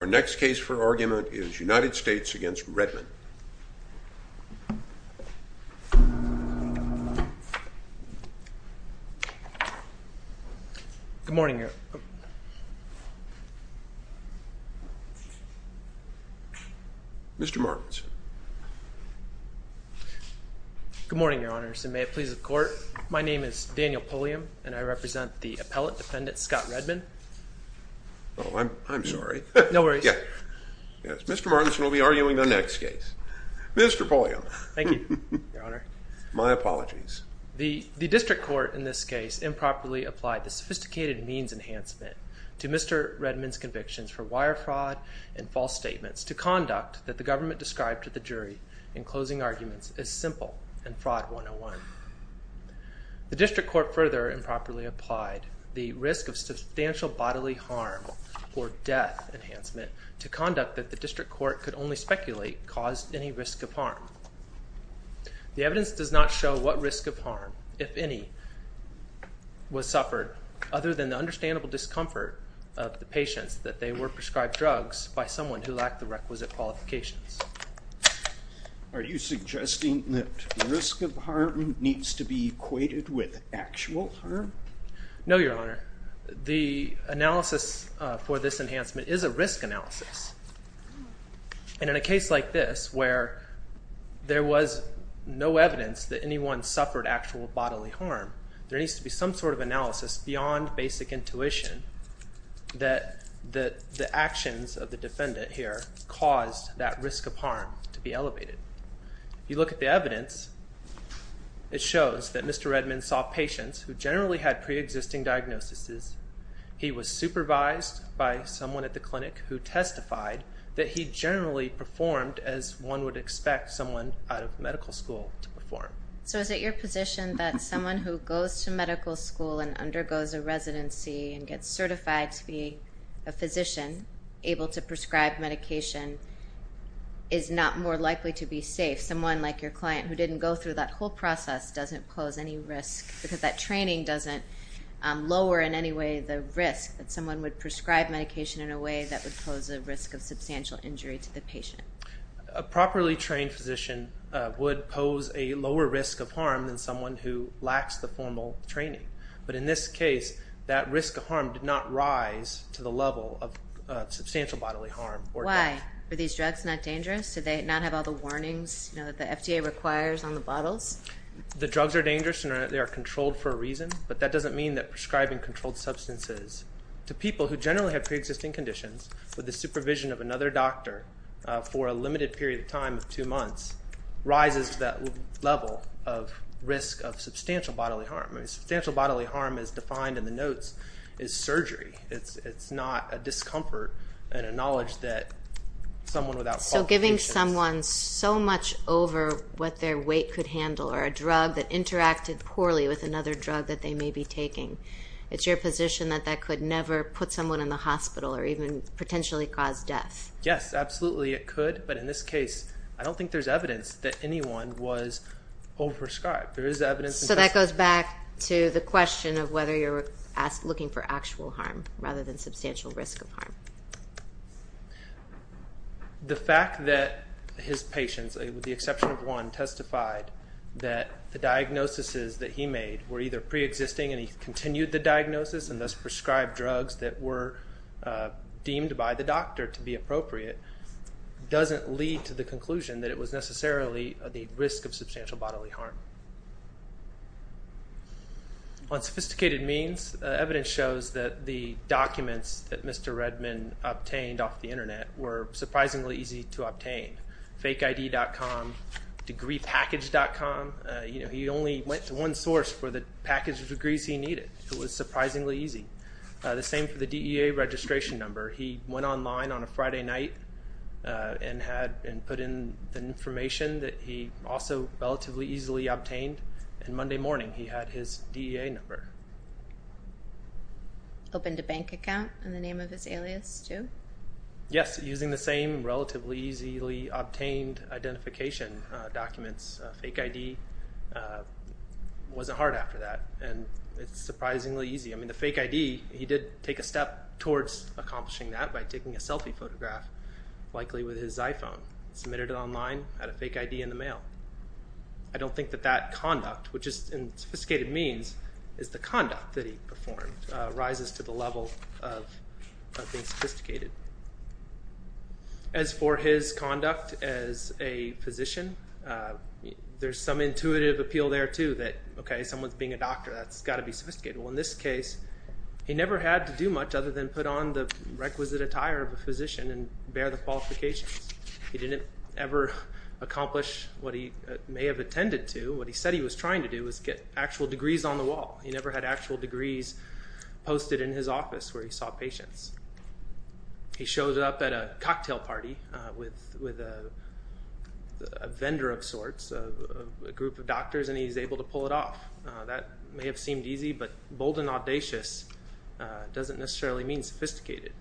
Our next case for argument is United States v. Redman Good morning your... Mr. Martins Good morning your honors and may it please the court, my name is Daniel Pulliam and I represent the appellate defendant Scott Redman Oh I'm sorry, Mr. Martins will be arguing the next case. Mr. Pulliam, my apologies The district court in this case improperly applied the sophisticated means enhancement to Mr. Redman's convictions for wire fraud and false statements to conduct that the government described to the jury in closing arguments as simple and fraud 101 The district court further improperly applied the risk of substantial bodily harm or death enhancement to conduct that the district court could only speculate caused any risk of harm The evidence does not show what risk of harm, if any, was suffered other than the understandable discomfort of the patients that they were prescribed drugs by someone who lacked the requisite qualifications Are you suggesting that risk of harm needs to be equated with actual harm? No your honor, the analysis for this enhancement is a risk analysis And in a case like this where there was no evidence that anyone suffered actual bodily harm, there needs to be some sort of analysis beyond basic intuition that the actions of the defendant here caused that risk of harm to be elevated If you look at the evidence, it shows that Mr. Redman saw patients who generally had pre-existing diagnoses, he was supervised by someone at the clinic who testified that he generally performed as one would expect someone out of medical school to perform So is it your position that someone who goes to medical school and undergoes a residency and gets certified to be a physician able to prescribe medication is not more likely to be safe? Someone like your client who didn't go through that whole process doesn't pose any risk because that training doesn't lower in any way the risk that someone would prescribe medication in a way that would pose a risk of substantial injury to the patient A properly trained physician would pose a lower risk of harm than someone who lacks the formal training, but in this case that risk of harm did not rise to the level of substantial bodily harm Why? Are these drugs not dangerous? Do they not have all the warnings that the FDA requires on the bottles? The drugs are dangerous and they are controlled for a reason, but that doesn't mean that prescribing controlled substances to people who generally have pre-existing conditions with the supervision of another doctor for a limited period of time of two months rises to that level of risk of substantial bodily harm Substantial bodily harm as defined in the notes is surgery, it's not a discomfort and a knowledge that someone without qualifications Giving someone so much over what their weight could handle or a drug that interacted poorly with another drug that they may be taking, it's your position that that could never put someone in the hospital or even potentially cause death? Yes, absolutely it could, but in this case I don't think there's evidence that anyone was over-prescribed So that goes back to the question of whether you're looking for actual harm rather than substantial risk of harm The fact that his patients, with the exception of one, testified that the diagnoses that he made were either pre-existing and he continued the diagnosis and thus prescribed drugs that were deemed by the doctor to be appropriate Doesn't lead to the conclusion that it was necessarily the risk of substantial bodily harm On sophisticated means, evidence shows that the documents that Mr. Redman obtained off the internet were surprisingly easy to obtain Fakeid.com, degreepackage.com, he only went to one source for the package of degrees he needed, it was surprisingly easy The same for the DEA registration number, he went online on a Friday night and put in the information that he also relatively easily obtained and Monday morning he had his DEA number Opened a bank account in the name of his alias too? Yes, using the same relatively easily obtained identification documents, fake ID, wasn't hard after that, and it's surprisingly easy I mean the fake ID, he did take a step towards accomplishing that by taking a selfie photograph, likely with his iPhone, submitted it online, had a fake ID in the mail I don't think that that conduct, which is in sophisticated means, is the conduct that he performed, rises to the level of being sophisticated As for his conduct as a physician, there's some intuitive appeal there too, that someone's being a doctor, that's got to be sophisticated Well in this case, he never had to do much other than put on the requisite attire of a physician and bear the qualifications He didn't ever accomplish what he may have intended to, what he said he was trying to do was get actual degrees on the wall He never had actual degrees posted in his office where he saw patients He showed up at a cocktail party with a vendor of sorts, a group of doctors, and he was able to pull it off That may have seemed easy, but bold and audacious doesn't necessarily mean sophisticated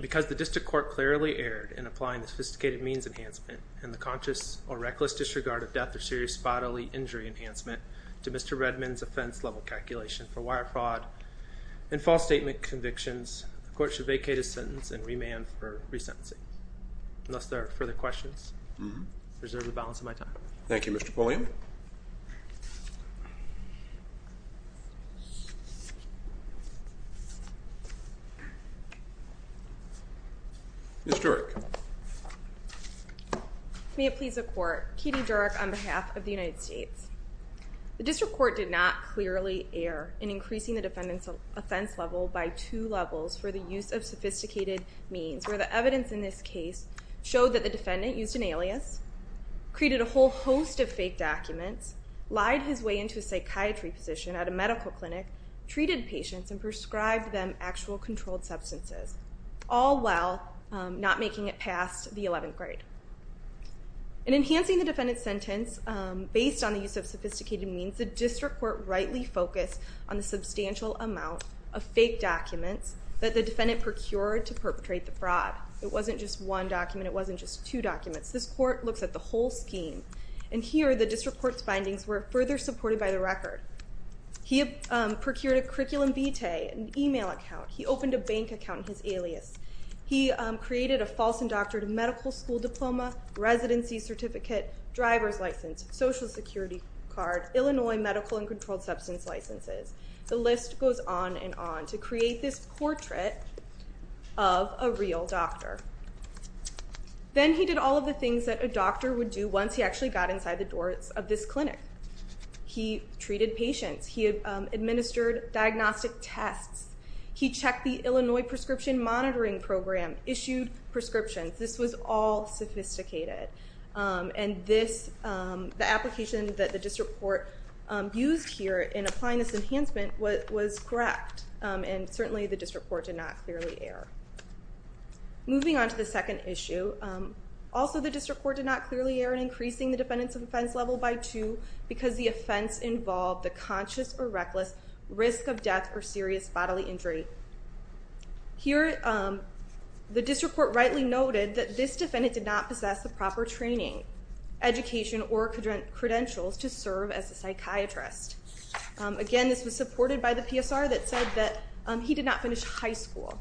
Because the district court clearly erred in applying the sophisticated means enhancement and the conscious or reckless disregard of death or serious bodily injury enhancement to Mr. Redman's offense level calculation for wire fraud and false statement convictions The court should vacate his sentence and remand for resentencing Unless there are further questions, I reserve the balance of my time Thank you Mr. Pulliam Ms. Durek May it please the court, Katie Durek on behalf of the United States The district court did not clearly err in increasing the defendant's offense level by two levels for the use of sophisticated means Where the evidence in this case showed that the defendant used an alias, created a whole host of fake documents Lied his way into a psychiatry position at a medical clinic, treated patients, and prescribed them actual controlled substances All while not making it past the 11th grade In enhancing the defendant's sentence based on the use of sophisticated means The district court rightly focused on the substantial amount of fake documents that the defendant procured to perpetrate the fraud It wasn't just one document, it wasn't just two documents This court looks at the whole scheme And here the district court's findings were further supported by the record He procured a curriculum vitae, an email account He opened a bank account in his alias He created a false and doctored medical school diploma, residency certificate, driver's license Social security card, Illinois medical and controlled substance licenses The list goes on and on to create this portrait of a real doctor Then he did all of the things that a doctor would do once he actually got inside the doors of this clinic He treated patients, he administered diagnostic tests He checked the Illinois prescription monitoring program, issued prescriptions This was all sophisticated And the application that the district court used here in applying this enhancement was correct And certainly the district court did not clearly err Moving on to the second issue Also the district court did not clearly err in increasing the defendant's offense level by two Because the offense involved the conscious or reckless risk of death or serious bodily injury Here the district court rightly noted that this defendant did not possess the proper training Education or credentials to serve as a psychiatrist Again this was supported by the PSR that said that he did not finish high school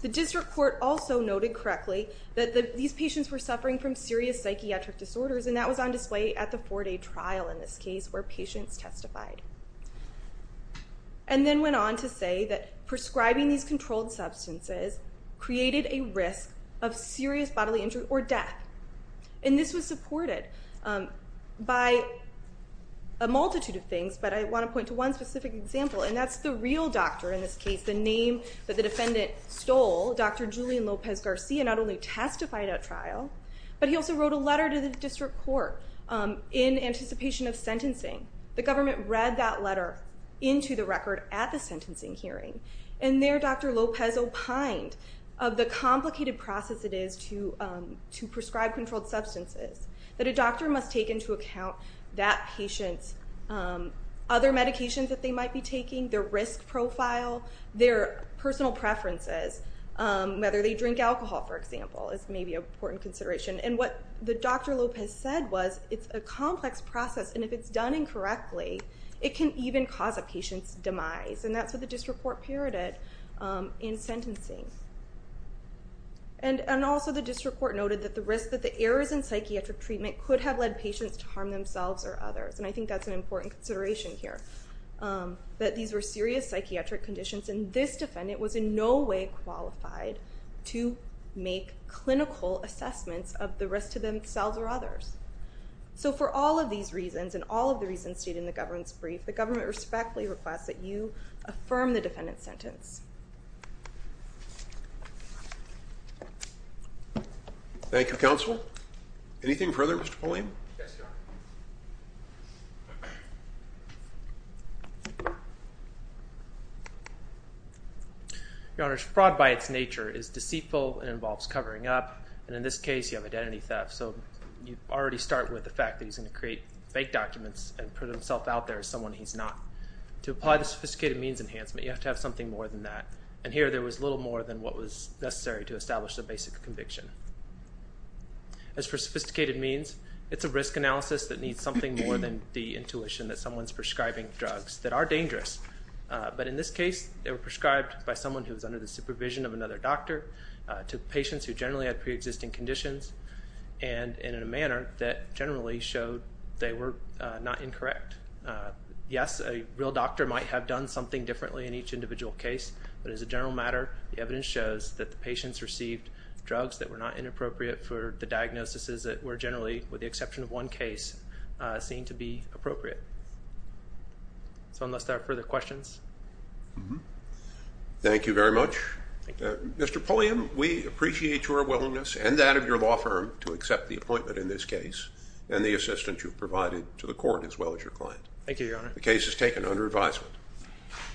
The district court also noted correctly that these patients were suffering from serious psychiatric disorders And that was on display at the four day trial in this case where patients testified And then went on to say that prescribing these controlled substances created a risk of serious bodily injury or death And this was supported by a multitude of things but I want to point to one specific example And that's the real doctor in this case, the name that the defendant stole Dr. Julian Lopez Garcia not only testified at trial But he also wrote a letter to the district court in anticipation of sentencing The government read that letter into the record at the sentencing hearing And there Dr. Lopez opined of the complicated process it is to prescribe controlled substances That a doctor must take into account that patient's other medications that they might be taking Their risk profile, their personal preferences Whether they drink alcohol for example is maybe an important consideration And what Dr. Lopez said was it's a complex process and if it's done incorrectly It can even cause a patient's demise and that's what the district court parroted in sentencing And also the district court noted that the risk that the errors in psychiatric treatment Could have led patients to harm themselves or others and I think that's an important consideration here That these were serious psychiatric conditions and this defendant was in no way qualified To make clinical assessments of the risk to themselves or others So for all of these reasons and all of the reasons stated in the government's brief The government respectfully requests that you affirm the defendant's sentence Thank you counsel. Anything further Mr. Pulliam? Yes your honor Your honor fraud by its nature is deceitful and involves covering up And in this case you have identity theft so you already start with the fact that he's going to create Fake documents and put himself out there as someone he's not To apply the sophisticated means enhancement you have to have something more than that And here there was little more than what was necessary to establish the basic conviction As for sophisticated means it's a risk analysis that needs something more than the intuition That someone's prescribing drugs that are dangerous but in this case they were prescribed By someone who was under the supervision of another doctor To patients who generally had pre-existing conditions And in a manner that generally showed they were not incorrect Yes a real doctor might have done something differently in each individual case But as a general matter the evidence shows that the patients received drugs That were not inappropriate for the diagnoses that were generally With the exception of one case seem to be appropriate So unless there are further questions Thank you very much Mr. Pulliam we appreciate your willingness and that of your law firm To accept the appointment in this case And the assistance you've provided to the court as well as your client Thank you your honor The case is taken under advisement